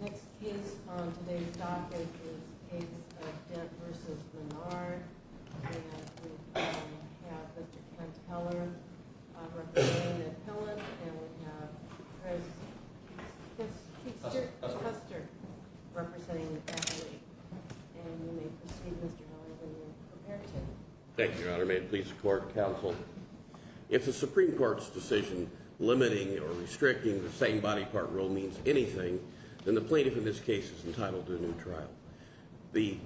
Next case on today's docket is the case of Dent v. Menard. And we have Mr. Kent Heller representing an appellant. And we have Mr. Kuster representing an appellant. And you may proceed, Mr. Heller, when you're prepared to. Thank you, Your Honor. May it please the Court and Counsel. If the Supreme Court's decision limiting or restricting the same-body part rule means anything, then the plaintiff in this case is entitled to a new trial. The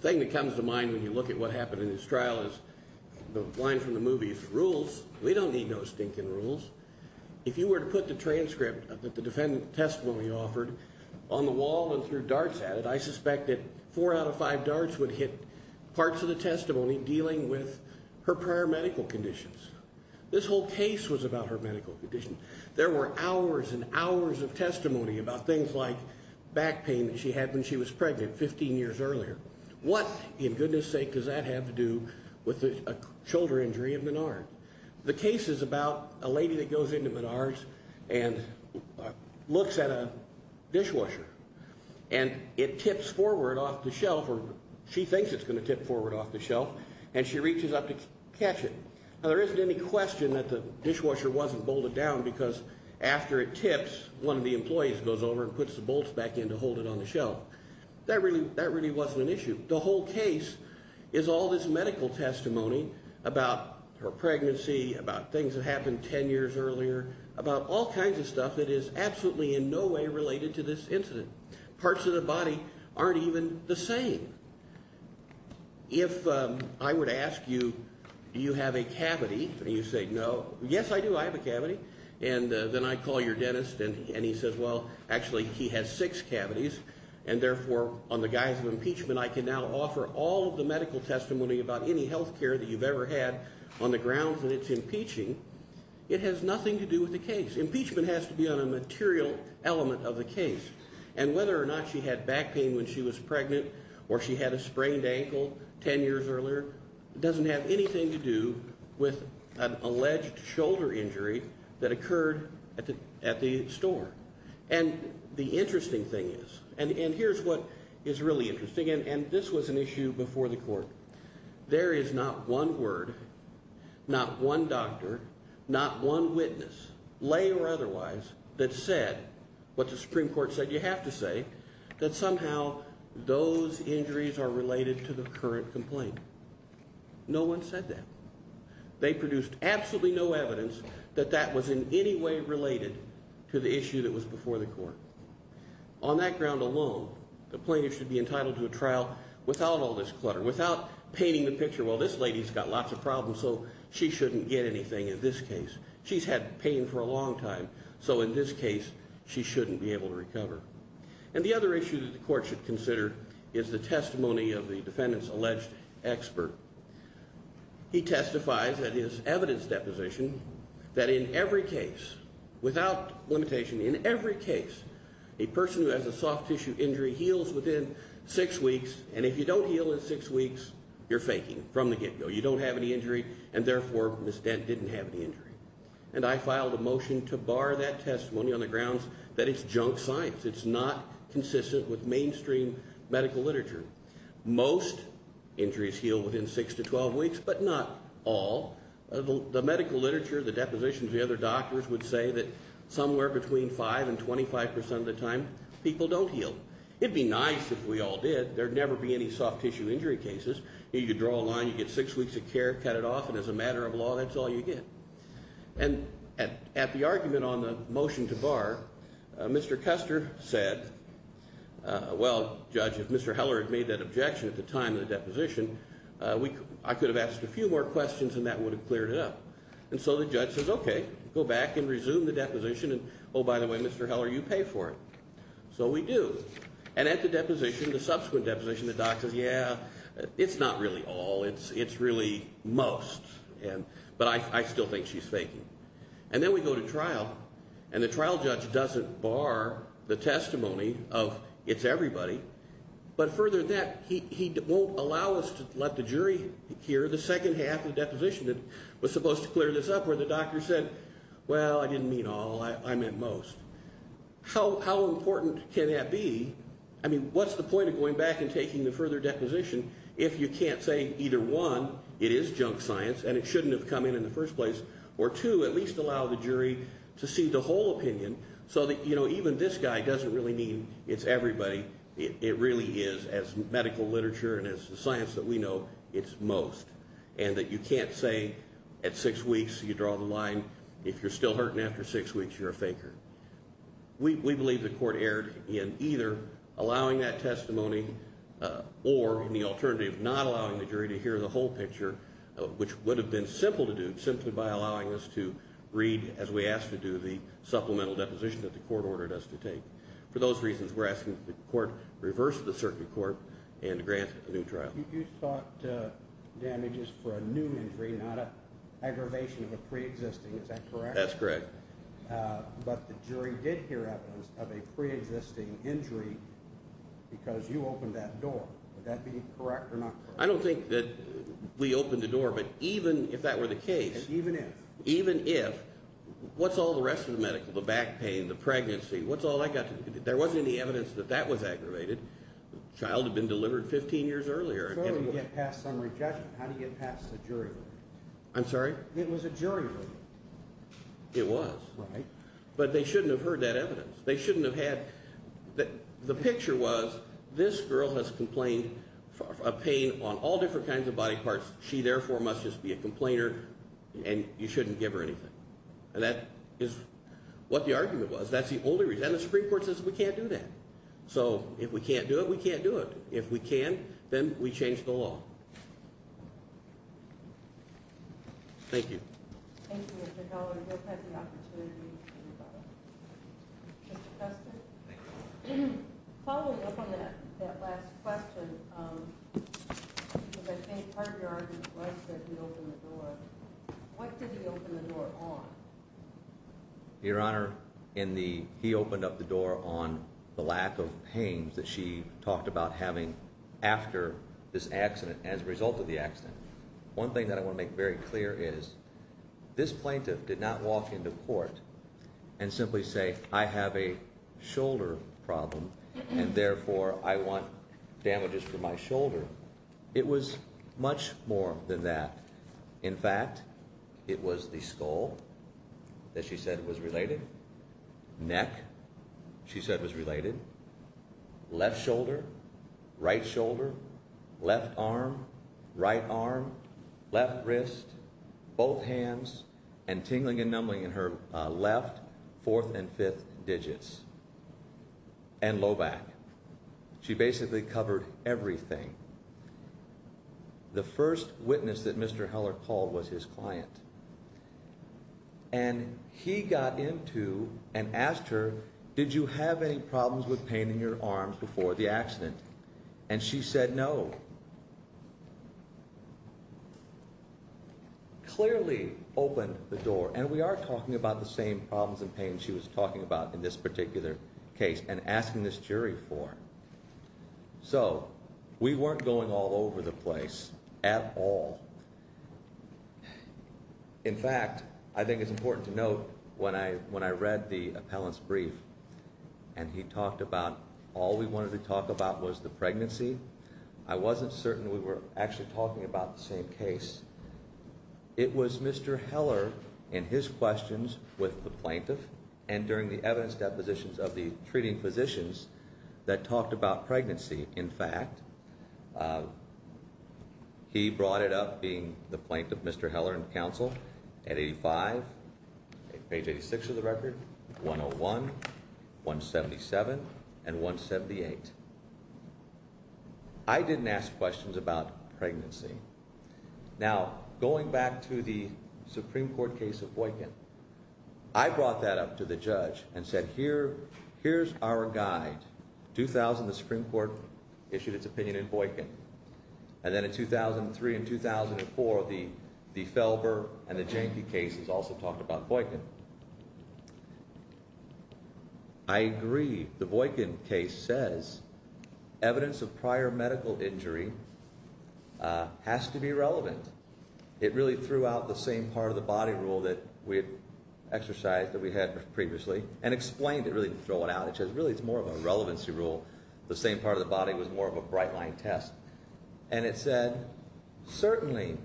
thing that comes to mind when you look at what happened in this trial is the line from the movie Rules. We don't need no stinking rules. If you were to put the transcript that the defendant testimony offered on the wall and threw darts at it, I suspect that four out of five darts would hit parts of the testimony dealing with her prior medical conditions. This whole case was about her medical conditions. There were hours and hours of testimony about things like back pain that she had when she was pregnant 15 years earlier. What, in goodness sake, does that have to do with a shoulder injury of Menard? The case is about a lady that goes into Menard's and looks at a dishwasher. And it tips forward off the shelf, or she thinks it's going to tip forward off the shelf, and she reaches up to catch it. Now, there isn't any question that the dishwasher wasn't bolted down because after it tips, one of the employees goes over and puts the bolts back in to hold it on the shelf. That really wasn't an issue. The whole case is all this medical testimony about her pregnancy, about things that happened 10 years earlier, about all kinds of stuff that is absolutely in no way related to this incident. Parts of the body aren't even the same. If I were to ask you, do you have a cavity? And you say, no. Yes, I do. I have a cavity. And then I call your dentist and he says, well, actually, he has six cavities. And therefore, on the guise of impeachment, I can now offer all of the medical testimony about any health care that you've ever had on the grounds that it's impeaching. It has nothing to do with the case. Impeachment has to be on a material element of the case. And whether or not she had back pain when she was pregnant or she had a sprained ankle 10 years earlier, it doesn't have anything to do with an alleged shoulder injury that occurred at the store. And the interesting thing is, and here's what is really interesting, and this was an issue before the court, there is not one word, not one doctor, not one witness, lay or otherwise, that said what the Supreme Court said you have to say, that somehow those injuries are related to the current complaint. No one said that. They produced absolutely no evidence that that was in any way related to the issue that was before the court. On that ground alone, the plaintiff should be entitled to a trial without all this clutter, without painting the picture, well, this lady's got lots of problems, so she shouldn't get anything in this case. She's had pain for a long time, so in this case, she shouldn't be able to recover. And the other issue that the court should consider is the testimony of the defendant's alleged expert. He testifies at his evidence deposition that in every case, without limitation, in every case, a person who has a soft tissue injury heals within six weeks, and if you don't heal in six weeks, you're faking from the get-go. You don't have any injury, and therefore, Ms. Dent didn't have any injury. And I filed a motion to bar that testimony on the grounds that it's junk science. It's not consistent with mainstream medical literature. Most injuries heal within six to 12 weeks, but not all. The medical literature, the depositions, the other doctors would say that somewhere between 5 and 25 percent of the time, people don't heal. It'd be nice if we all did. There'd never be any soft tissue injury cases. You could draw a line, you get six weeks of care, cut it off, and as a matter of law, that's all you get. And at the argument on the motion to bar, Mr. Custer said, well, Judge, if Mr. Heller had made that objection at the time of the deposition, I could have asked a few more questions and that would have cleared it up. And so the judge says, okay, go back and resume the deposition, and oh, by the way, Mr. Heller, you pay for it. So we do. And at the deposition, the subsequent deposition, the doc says, yeah, it's not really all, it's really most. But I still think she's faking. And then we go to trial, and the trial judge doesn't bar the testimony of it's everybody. But further to that, he won't allow us to let the jury hear the second half of the deposition that was supposed to clear this up, where the doctor said, well, I didn't mean all, I meant most. How important can that be? I mean, what's the point of going back and taking the further deposition if you can't say either, one, it is junk science and it shouldn't have come in in the first place, or two, at least allow the jury to see the whole opinion so that, you know, even this guy doesn't really mean it's everybody. It really is, as medical literature and as the science that we know, it's most. And that you can't say at six weeks you draw the line. If you're still hurting after six weeks, you're a faker. We believe the court erred in either allowing that testimony or in the alternative, not allowing the jury to hear the whole picture, which would have been simple to do, simply by allowing us to read, as we asked to do, the supplemental deposition that the court ordered us to take. For those reasons, we're asking that the court reverse the circuit court and grant a new trial. You sought damages for a new injury, not an aggravation of a preexisting. Is that correct? That's correct. But the jury did hear evidence of a preexisting injury because you opened that door. Would that be correct or not correct? I don't think that we opened the door, but even if that were the case, even if, what's all the rest of the medical, the back pain, the pregnancy, what's all that got to do with it? There wasn't any evidence that that was aggravated. The child had been delivered 15 years earlier. How do you get past some rejection? How do you get past a jury ruling? I'm sorry? It was a jury ruling. It was. Right. But they shouldn't have heard that evidence. They shouldn't have had, the picture was this girl has complained of pain on all different kinds of body parts. She, therefore, must just be a complainer and you shouldn't give her anything. And that is what the argument was. That's the only reason. And the Supreme Court says we can't do that. So if we can't do it, we can't do it. If we can, then we change the law. Thank you. Thank you, Mr. Heller. We'll take the opportunity. Mr. Kessler? Thank you. Following up on that, that last question, the pain courtyard request that he opened the door, what did he open the door on? Your Honor, in the, he opened up the door on the lack of pain that she talked about having after this accident, as a result of the accident. One thing that I want to make very clear is, this plaintiff did not walk into court and simply say, I have a shoulder problem and, therefore, I want damages for my shoulder. It was much more than that. In fact, it was the skull that she said was related, neck she said was related, left shoulder, right shoulder, left arm, right arm, left wrist, both hands, and tingling and numbing in her left fourth and fifth digits, and low back. She basically covered everything. The first witness that Mr. Heller called was his client. And he got into and asked her, did you have any problems with pain in your arms before the accident? And she said no. Clearly opened the door, and we are talking about the same problems and pain she was talking about in this particular case, and asking this jury for. So, we weren't going all over the place at all. In fact, I think it's important to note, when I read the appellant's brief, and he talked about all we wanted to talk about was the pregnancy, I wasn't certain we were actually talking about the same case. It was Mr. Heller and his questions with the plaintiff and during the evidence depositions of the treating physicians that talked about pregnancy. In fact, he brought it up being the plaintiff, Mr. Heller and counsel, at 85, page 86 of the record, 101, 177, and 178. I didn't ask questions about pregnancy. Now, going back to the Supreme Court case of Boykin, I brought that up to the judge and said, here's our guide. 2000, the Supreme Court issued its opinion in Boykin. And then in 2003 and 2004, the Felber and the Janke cases also talked about Boykin. I agree. The Boykin case says evidence of prior medical injury has to be relevant. It really threw out the same part of the body rule that we had exercised, that we had previously, and explained it, really throw it out. It says, really, it's more of a relevancy rule. The same part of the body was more of a bright-line test. And it said, certainly,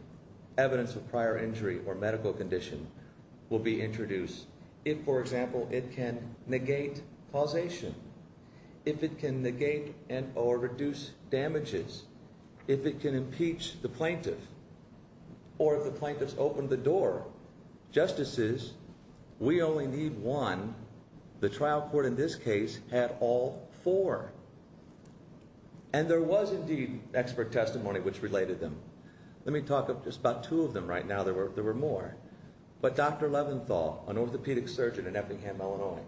evidence of prior injury or medical condition will be introduced if, for example, it can negate causation, if it can negate or reduce damages, if it can impeach the plaintiff, or if the plaintiff's opened the door. Justices, we only need one. The trial court in this case had all four. And there was, indeed, expert testimony which related them. Let me talk of just about two of them right now. There were more. But Dr. Leventhal, an orthopedic surgeon in Effingham, Illinois,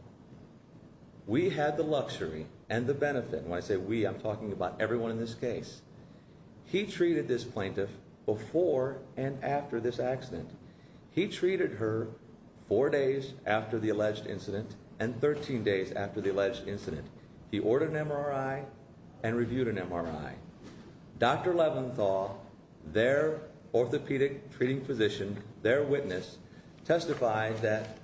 we had the luxury and the benefit. When I say we, I'm talking about everyone in this case. He treated this plaintiff before and after this accident. He treated her four days after the alleged incident and 13 days after the alleged incident. He ordered an MRI and reviewed an MRI. Dr. Leventhal, their orthopedic treating physician, their witness, testified that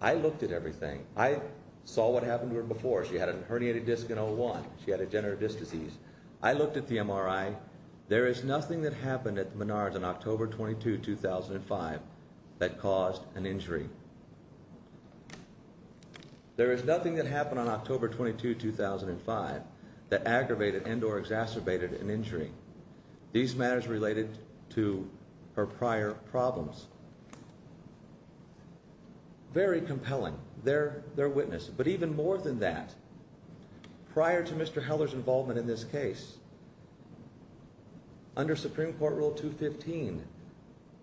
I looked at everything. I saw what happened to her before. She had a herniated disc in 01. She had degenerative disc disease. I looked at the MRI. There is nothing that happened at Menards on October 22, 2005, that caused an injury. There is nothing that happened on October 22, 2005, that aggravated and or exacerbated an injury. These matters related to her prior problems. Very compelling, their witness. But even more than that, prior to Mr. Heller's involvement in this case, under Supreme Court Rule 215,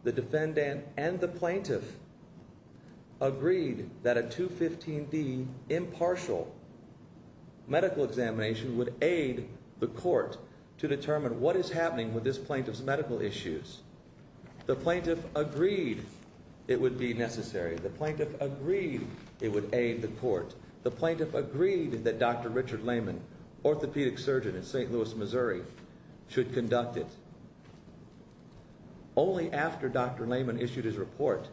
the defendant and the plaintiff agreed that a 215D impartial medical examination would aid the court to determine what is happening with this plaintiff's medical issues. The plaintiff agreed it would be necessary. The plaintiff agreed it would aid the court. The plaintiff agreed that Dr. Richard Lehman, an orthopedic surgeon in St. Louis, Missouri, should conduct it. Only after Dr. Lehman issued his report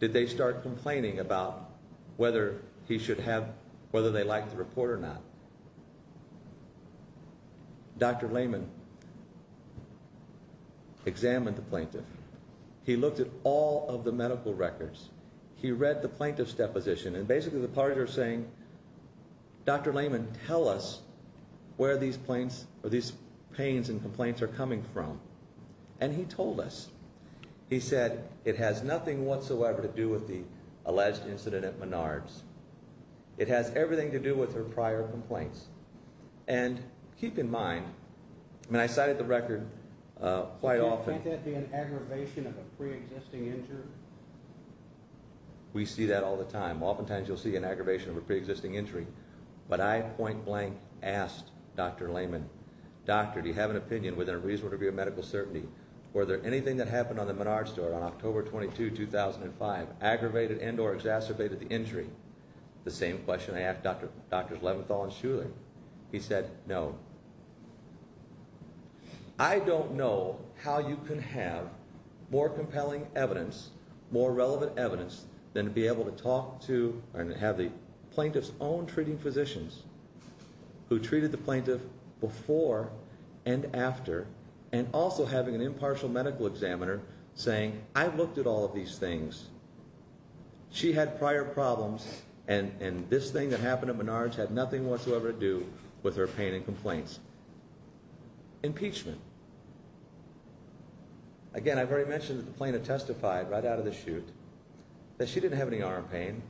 did they start complaining about whether they liked the report or not. Dr. Lehman examined the plaintiff. He looked at all of the medical records. He read the plaintiff's deposition. And basically the parties were saying, Dr. Lehman, tell us where these pains and complaints are coming from. And he told us. He said, it has nothing whatsoever to do with the alleged incident at Menards. It has everything to do with her prior complaints. And keep in mind, I cited the record quite often. Can't that be an aggravation of a preexisting injury? We see that all the time. Oftentimes you'll see an aggravation of a preexisting injury. But I point blank asked Dr. Lehman, Doctor, do you have an opinion within a reasonable degree of medical certainty were there anything that happened on the Menards store on October 22, 2005, aggravated and or exacerbated the injury? The same question I asked Drs. Leventhal and Shuler. He said, no. I don't know how you can have more compelling evidence, more relevant evidence, than to be able to talk to and have the plaintiff's own treating physicians who treated the plaintiff before and after and also having an impartial medical examiner saying, I've looked at all of these things. She had prior problems and this thing that happened at Menards had nothing whatsoever to do with her pain and complaints. Impeachment. Again, I've already mentioned that the plaintiff testified right out of the chute that she didn't have any arm pain,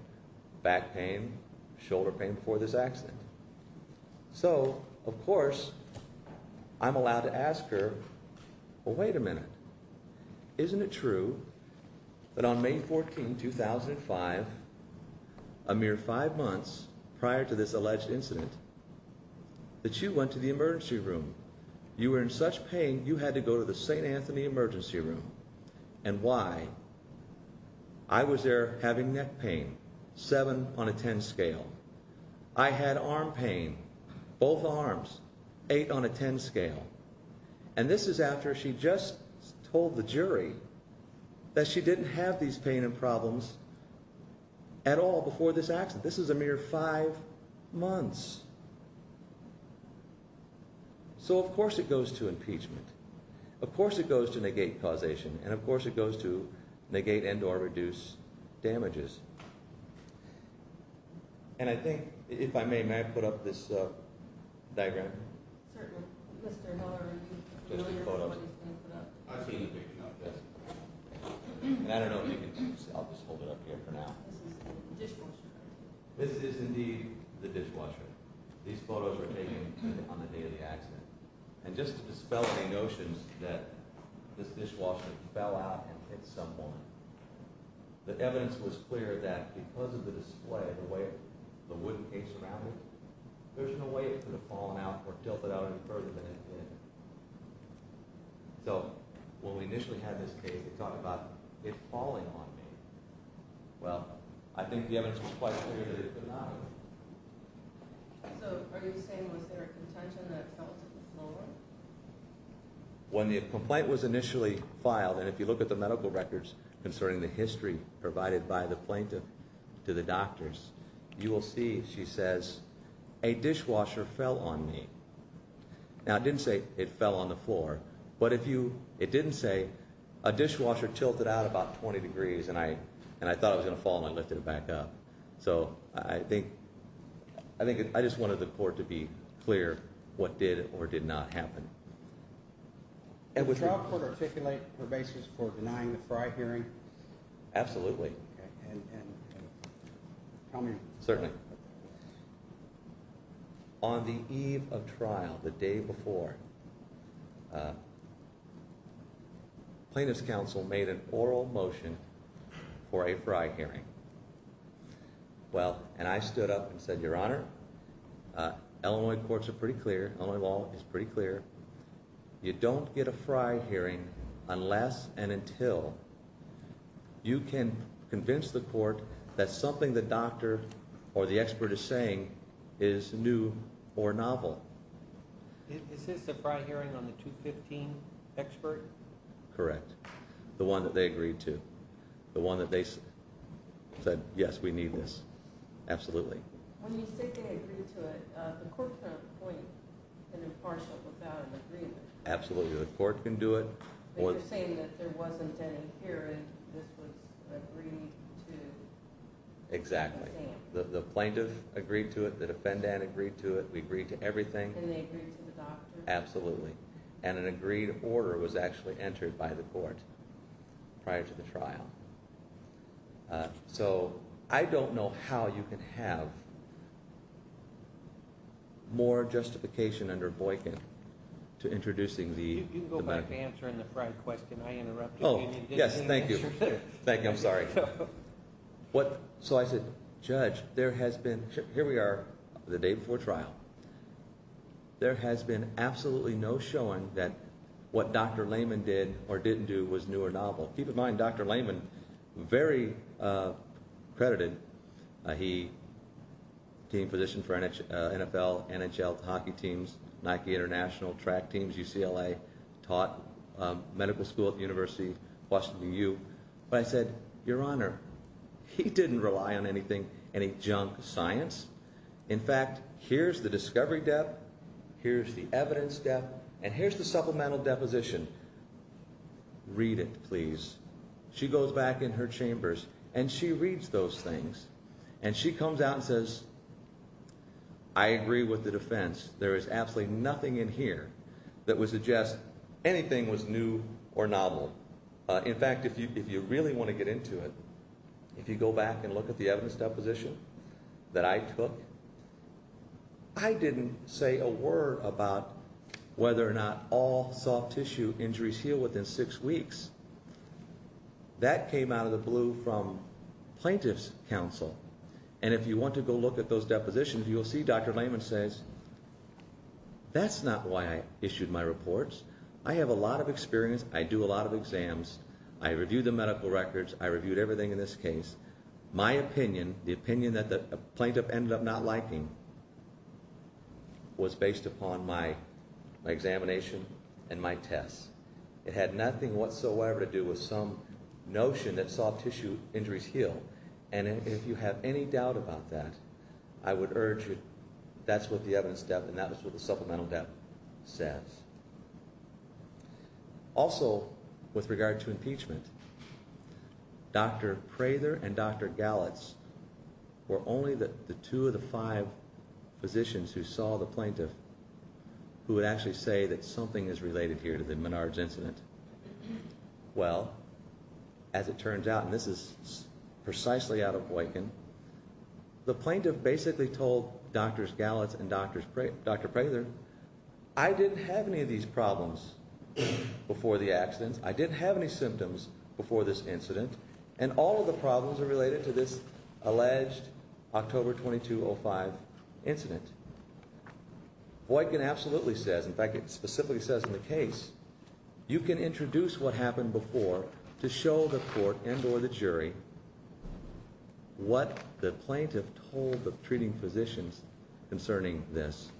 back pain, shoulder pain before this accident. So, of course, I'm allowed to ask her, well, wait a minute. Isn't it true that on May 14, 2005, a mere five months prior to this alleged incident, that you went to the emergency room? You were in such pain, you had to go to the St. Anthony emergency room. And why? I was there having neck pain, 7 on a 10 scale. I had arm pain, both arms, 8 on a 10 scale. And this is after she just told the jury that she didn't have these pain and problems at all before this accident. This is a mere five months. So, of course, it goes to impeachment. Of course, it goes to negate causation. And of course, it goes to negate and or reduce damages. And I think, if I may, may I put up this diagram? Certainly, Mr. Miller. Just the photos. I've seen the picture. I don't know if you can see. I'll just hold it up here for now. This is the dishwasher. This is indeed the dishwasher. These photos were taken on the day of the accident. And just to dispel any notions that this dishwasher fell out at some point, the evidence was clear that because of the display, the way the wooden case surrounded it, there's no way it could have fallen out or tilted out any further than it did. So when we initially had this case, they talked about it falling on me. Well, I think the evidence was quite clear that it did not. So are you saying was there a contention that it fell to the floor? When the complaint was initially filed, and if you look at the medical records concerning the history provided by the plaintiff to the doctors, you will see, she says, a dishwasher fell on me. Now, it didn't say it fell on the floor, but it didn't say a dishwasher tilted out about 20 degrees and I thought it was going to fall and I lifted it back up. So I think I just wanted the court to be clear what did or did not happen. Would the trial court articulate her basis for denying the Fry hearing? Absolutely. Tell me. Certainly. On the eve of trial, the day before, plaintiff's counsel made an oral motion for a Fry hearing. Well, and I stood up and said, Your Honor, Illinois courts are pretty clear, Illinois law is pretty clear. You don't get a Fry hearing unless and until You can convince the court that something the doctor or the expert is saying is new or novel. Is this a Fry hearing on the 215 expert? Correct. The one that they agreed to. The one that they said, yes, we need this. Absolutely. When you say they agreed to it, the court can appoint an impartial without an agreement. Absolutely. The court can do it. But you're saying that there wasn't an hearing, this was agreed to. Exactly. The plaintiff agreed to it, the defendant agreed to it, we agreed to everything. And they agreed to the doctor. Absolutely. And an agreed order was actually entered by the court prior to the trial. So I don't know how you can have more justification under Boykin to introducing the medical. You can go back to answering the Fry question I interrupted. Oh, yes, thank you. Thank you, I'm sorry. So I said, Judge, there has been, here we are the day before trial, there has been absolutely no showing that what Dr. Layman did or didn't do was new or novel. Keep in mind, Dr. Layman, very credited. He gained position for NFL, NHL, hockey teams, Nike International, track teams, UCLA, taught medical school at the University of Washington U. But I said, Your Honor, he didn't rely on any junk science. In fact, here's the discovery depth, here's the evidence depth, and here's the supplemental deposition. Read it, please. She goes back in her chambers, and she reads those things. And she comes out and says, I agree with the defense. There is absolutely nothing in here that would suggest anything was new or novel. In fact, if you really want to get into it, if you go back and look at the evidence deposition that I took, I didn't say a word about whether or not all soft tissue injuries heal within six weeks. That came out of the blue from plaintiff's counsel. And if you want to go look at those depositions, you'll see Dr. Layman says, That's not why I issued my reports. I have a lot of experience. I do a lot of exams. I review the medical records. I reviewed everything in this case. My opinion, the opinion that the plaintiff ended up not liking, was based upon my examination and my tests. It had nothing whatsoever to do with some notion that soft tissue injuries heal. And if you have any doubt about that, I would urge you, that's what the evidence depth, and that's what the supplemental depth says. Also, with regard to impeachment, Dr. Prather and Dr. Gallitz were only the two of the five physicians who saw the plaintiff who would actually say that something is related here to the Menards incident. Well, as it turns out, and this is precisely out of Boykin, the plaintiff basically told Dr. Gallitz and Dr. Prather, I didn't have any of these problems before the accident. I didn't have any symptoms before this incident. And all of the problems are related to this alleged October 2205 incident. Boykin absolutely says, in fact, it specifically says in the case, you can introduce what happened before to show the court and or the jury what the plaintiff told the treating physicians concerning this.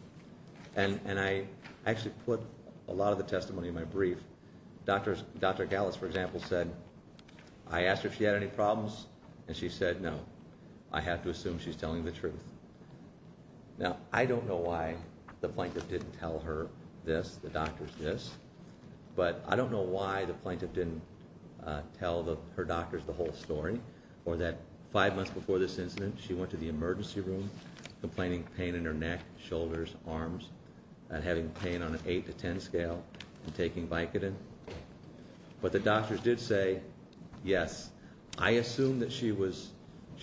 And I actually put a lot of the testimony in my brief. Dr. Gallitz, for example, said, I asked her if she had any problems, and she said no. I have to assume she's telling the truth. Now, I don't know why the plaintiff didn't tell her this, the doctors this, but I don't know why the plaintiff didn't tell her doctors the whole story, or that five months before this incident she went to the emergency room complaining of pain in her neck, shoulders, arms, and having pain on an 8 to 10 scale and taking Vicodin. But the doctors did say yes. I assume that she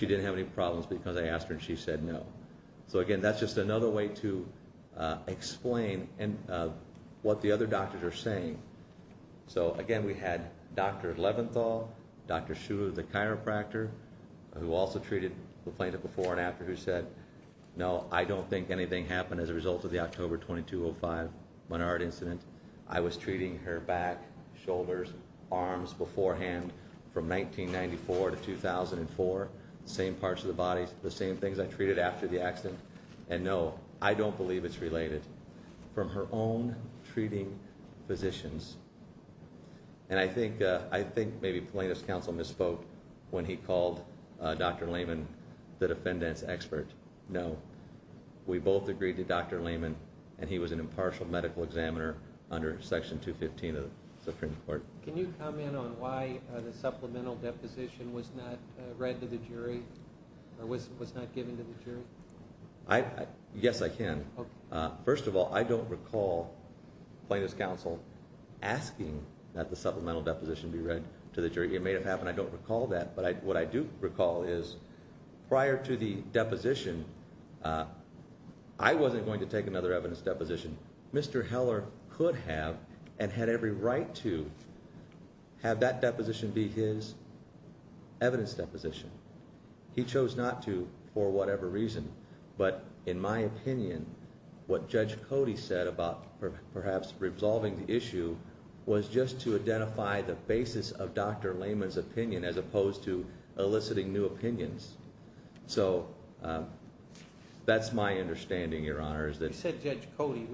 didn't have any problems because I asked her, and she said no. So, again, that's just another way to explain what the other doctors are saying. So, again, we had Dr. Leventhal, Dr. Shula, the chiropractor, who also treated the plaintiff before and after, who said, no, I don't think anything happened as a result of the October 2205 Menard incident. I was treating her back, shoulders, arms beforehand from 1994 to 2004, the same parts of the body, the same things I treated after the accident, and no, I don't believe it's related. From her own treating physicians, and I think maybe plaintiff's counsel misspoke when he called Dr. Lehman the defendant's expert. No. We both agreed to Dr. Lehman, and he was an impartial medical examiner under Section 215 of the Supreme Court. Can you comment on why the supplemental deposition was not read to the jury or was not given to the jury? Yes, I can. First of all, I don't recall plaintiff's counsel asking that the supplemental deposition be read to the jury. It may have happened. I don't recall that. But what I do recall is prior to the deposition, I wasn't going to take another evidence deposition. Mr. Heller could have and had every right to have that deposition be his evidence deposition. He chose not to for whatever reason. But in my opinion, what Judge Cody said about perhaps resolving the issue was just to identify the basis of Dr. Lehman's opinion as opposed to eliciting new opinions. So that's my understanding, Your Honor. You said Judge Cody.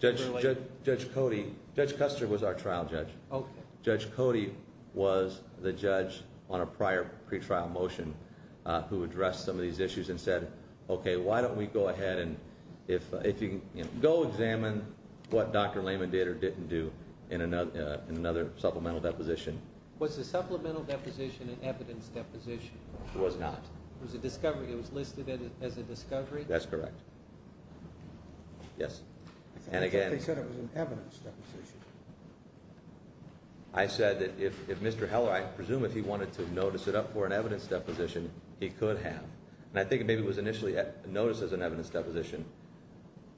Judge Cody. Judge Custer was our trial judge. Judge Cody was the judge on a prior pretrial motion who addressed some of these issues and said, okay, why don't we go ahead and if you can go examine what Dr. Lehman did or didn't do in another supplemental deposition. Was the supplemental deposition an evidence deposition? It was not. It was a discovery. It was listed as a discovery? That's correct. Yes. And again. I thought they said it was an evidence deposition. I said that if Mr. Heller, I presume if he wanted to notice it up for an evidence deposition, he could have. And I think maybe it was initially noticed as an evidence deposition.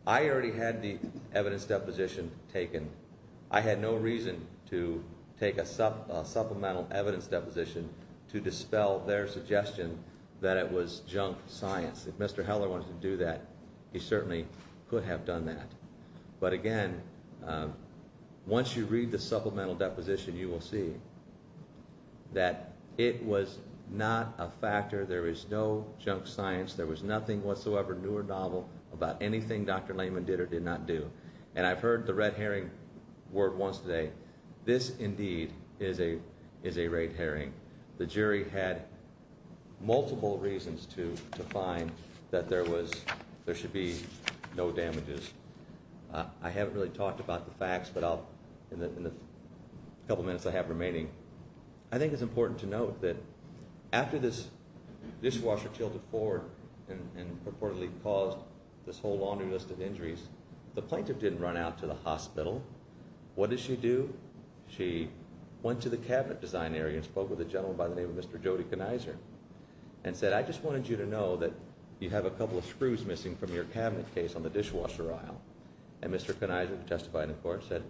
I already had the evidence deposition taken. I had no reason to take a supplemental evidence deposition to dispel their suggestion that it was junk science. If Mr. Heller wanted to do that, he certainly could have done that. But again, once you read the supplemental deposition, you will see that it was not a factor. There is no junk science. There was nothing whatsoever new or novel about anything Dr. Lehman did or did not do. And I've heard the red herring word once today. This indeed is a red herring. The jury had multiple reasons to find that there should be no damages. I haven't really talked about the facts, but in the couple minutes I have remaining, I think it's important to note that after this dishwasher tilted forward and purportedly caused this whole laundry list of injuries, the plaintiff didn't run out to the hospital. What did she do? She went to the cabinet design area and spoke with a gentleman by the name of Mr. Jody Kniser and said, I just wanted you to know that you have a couple of screws missing from your cabinet case on the dishwasher aisle. And Mr. Kniser testified in court and said,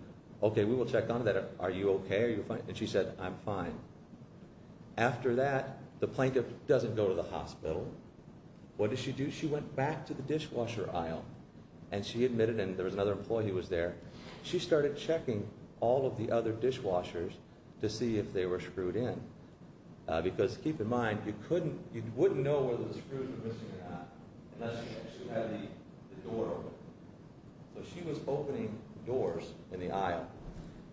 okay, we will check on that. Are you okay? And she said, I'm fine. After that, the plaintiff doesn't go to the hospital. What did she do? She went back to the dishwasher aisle and she admitted, and there was another employee who was there, she started checking all of the other dishwashers to see if they were screwed in. Because keep in mind, you wouldn't know whether the screws were missing or not unless you actually had the door open. So she was opening doors in the aisle,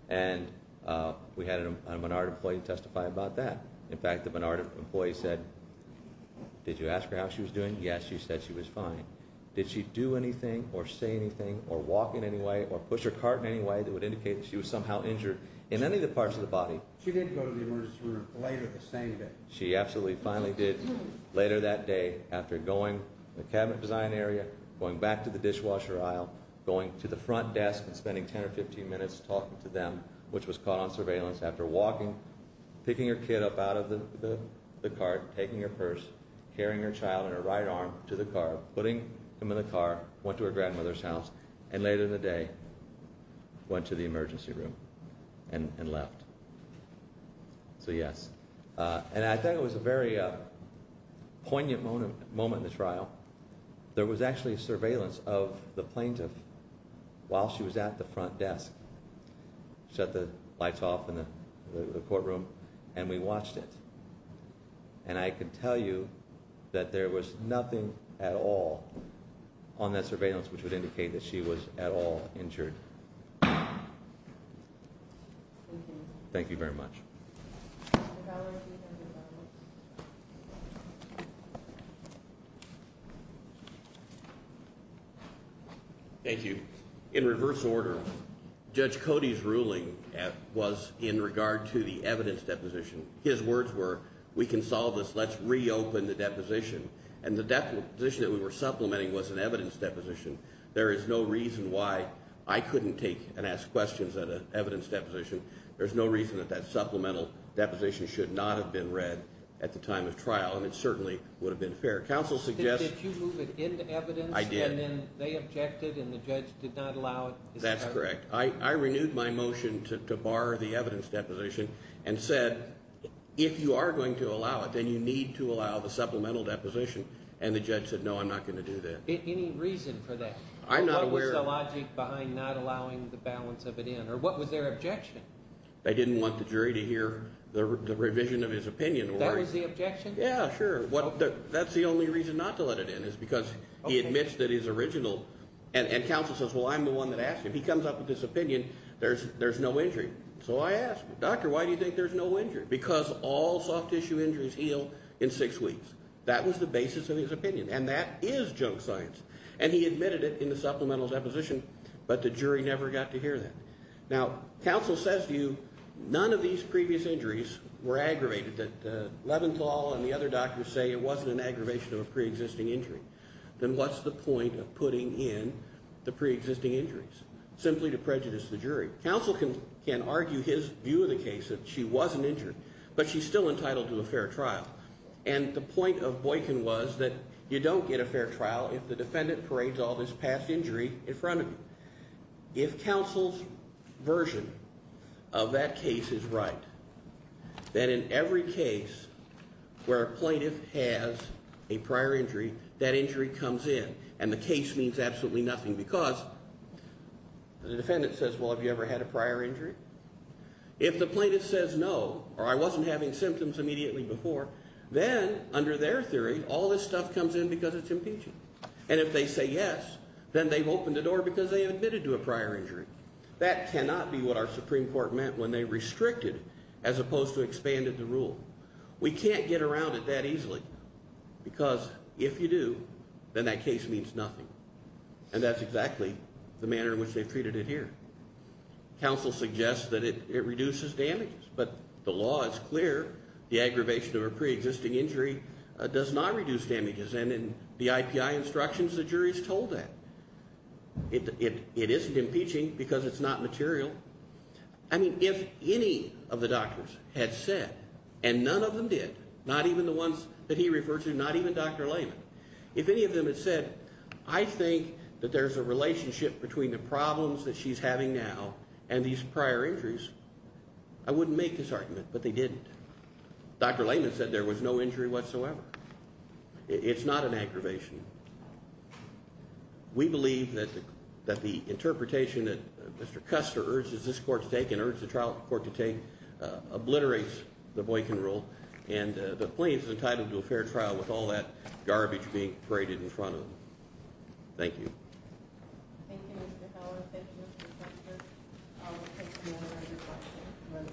and we had a Menard employee testify about that. In fact, the Menard employee said, did you ask her how she was doing? Yes, she said she was fine. Did she do anything or say anything or walk in any way or push her cart in any way that would indicate that she was somehow injured in any of the parts of the body? She did go to the emergency room later the same day. She absolutely finally did later that day after going to the cabinet design area, going back to the dishwasher aisle, going to the front desk and spending 10 or 15 minutes talking to them, which was caught on surveillance, after walking, picking her kid up out of the cart, taking her purse, carrying her child in her right arm to the car, putting him in the car, went to her grandmother's house, and later in the day went to the emergency room and left. So yes. And I thought it was a very poignant moment in the trial. There was actually surveillance of the plaintiff while she was at the front desk. Shut the lights off in the courtroom, and we watched it. And I can tell you that there was nothing at all on that surveillance which would indicate that she was at all injured. Thank you very much. Thank you. In reverse order, Judge Cody's ruling was in regard to the evidence deposition. His words were, we can solve this. Let's reopen the deposition. And the deposition that we were supplementing was an evidence deposition. There is no reason why I couldn't take and ask questions at an evidence deposition. There's no reason that that supplemental deposition should not have been read at the time of trial. And it certainly would have been fair. Counsel suggests – Did you move it into evidence? I did. And then they objected and the judge did not allow it? That's correct. I renewed my motion to bar the evidence deposition and said, if you are going to allow it, then you need to allow the supplemental deposition. And the judge said, no, I'm not going to do that. Any reason for that? I'm not aware – What was the logic behind not allowing the balance of it in? Or what was their objection? They didn't want the jury to hear the revision of his opinion. That was the objection? Yeah, sure. That's the only reason not to let it in is because he admits that he's original. And counsel says, well, I'm the one that asked him. He comes up with this opinion. There's no injury. So I asked him, doctor, why do you think there's no injury? Because all soft tissue injuries heal in six weeks. That was the basis of his opinion. And that is junk science. And he admitted it in the supplemental deposition, but the jury never got to hear that. Now, counsel says to you, none of these previous injuries were aggravated, that Leventhal and the other doctors say it wasn't an aggravation of a preexisting injury. Then what's the point of putting in the preexisting injuries simply to prejudice the jury? Counsel can argue his view of the case, that she wasn't injured, but she's still entitled to a fair trial. And the point of Boykin was that you don't get a fair trial if the defendant parades all this past injury in front of you. If counsel's version of that case is right, then in every case where a plaintiff has a prior injury, that injury comes in. And the case means absolutely nothing because the defendant says, well, have you ever had a prior injury? If the plaintiff says no, or I wasn't having symptoms immediately before, then under their theory, all this stuff comes in because it's impeaching. And if they say yes, then they've opened the door because they admitted to a prior injury. That cannot be what our Supreme Court meant when they restricted as opposed to expanded the rule. We can't get around it that easily because if you do, then that case means nothing. And that's exactly the manner in which they've treated it here. Counsel suggests that it reduces damages, but the law is clear. The aggravation of a preexisting injury does not reduce damages. And in the IPI instructions, the jury's told that. It isn't impeaching because it's not material. I mean, if any of the doctors had said, and none of them did, not even the ones that he referred to, not even Dr. Layman, if any of them had said, I think that there's a relationship between the problems that she's having now and these prior injuries, I wouldn't make this argument, but they didn't. Dr. Layman said there was no injury whatsoever. It's not an aggravation. We believe that the interpretation that Mr. Custer urges this court to take and urges the trial court to take obliterates the Boykin rule, and the plaintiff is entitled to a fair trial with all that garbage being paraded in front of them. Thank you. Thank you, Mr. Heller. Thank you, Mr. Custer. I'll take no more of your questions.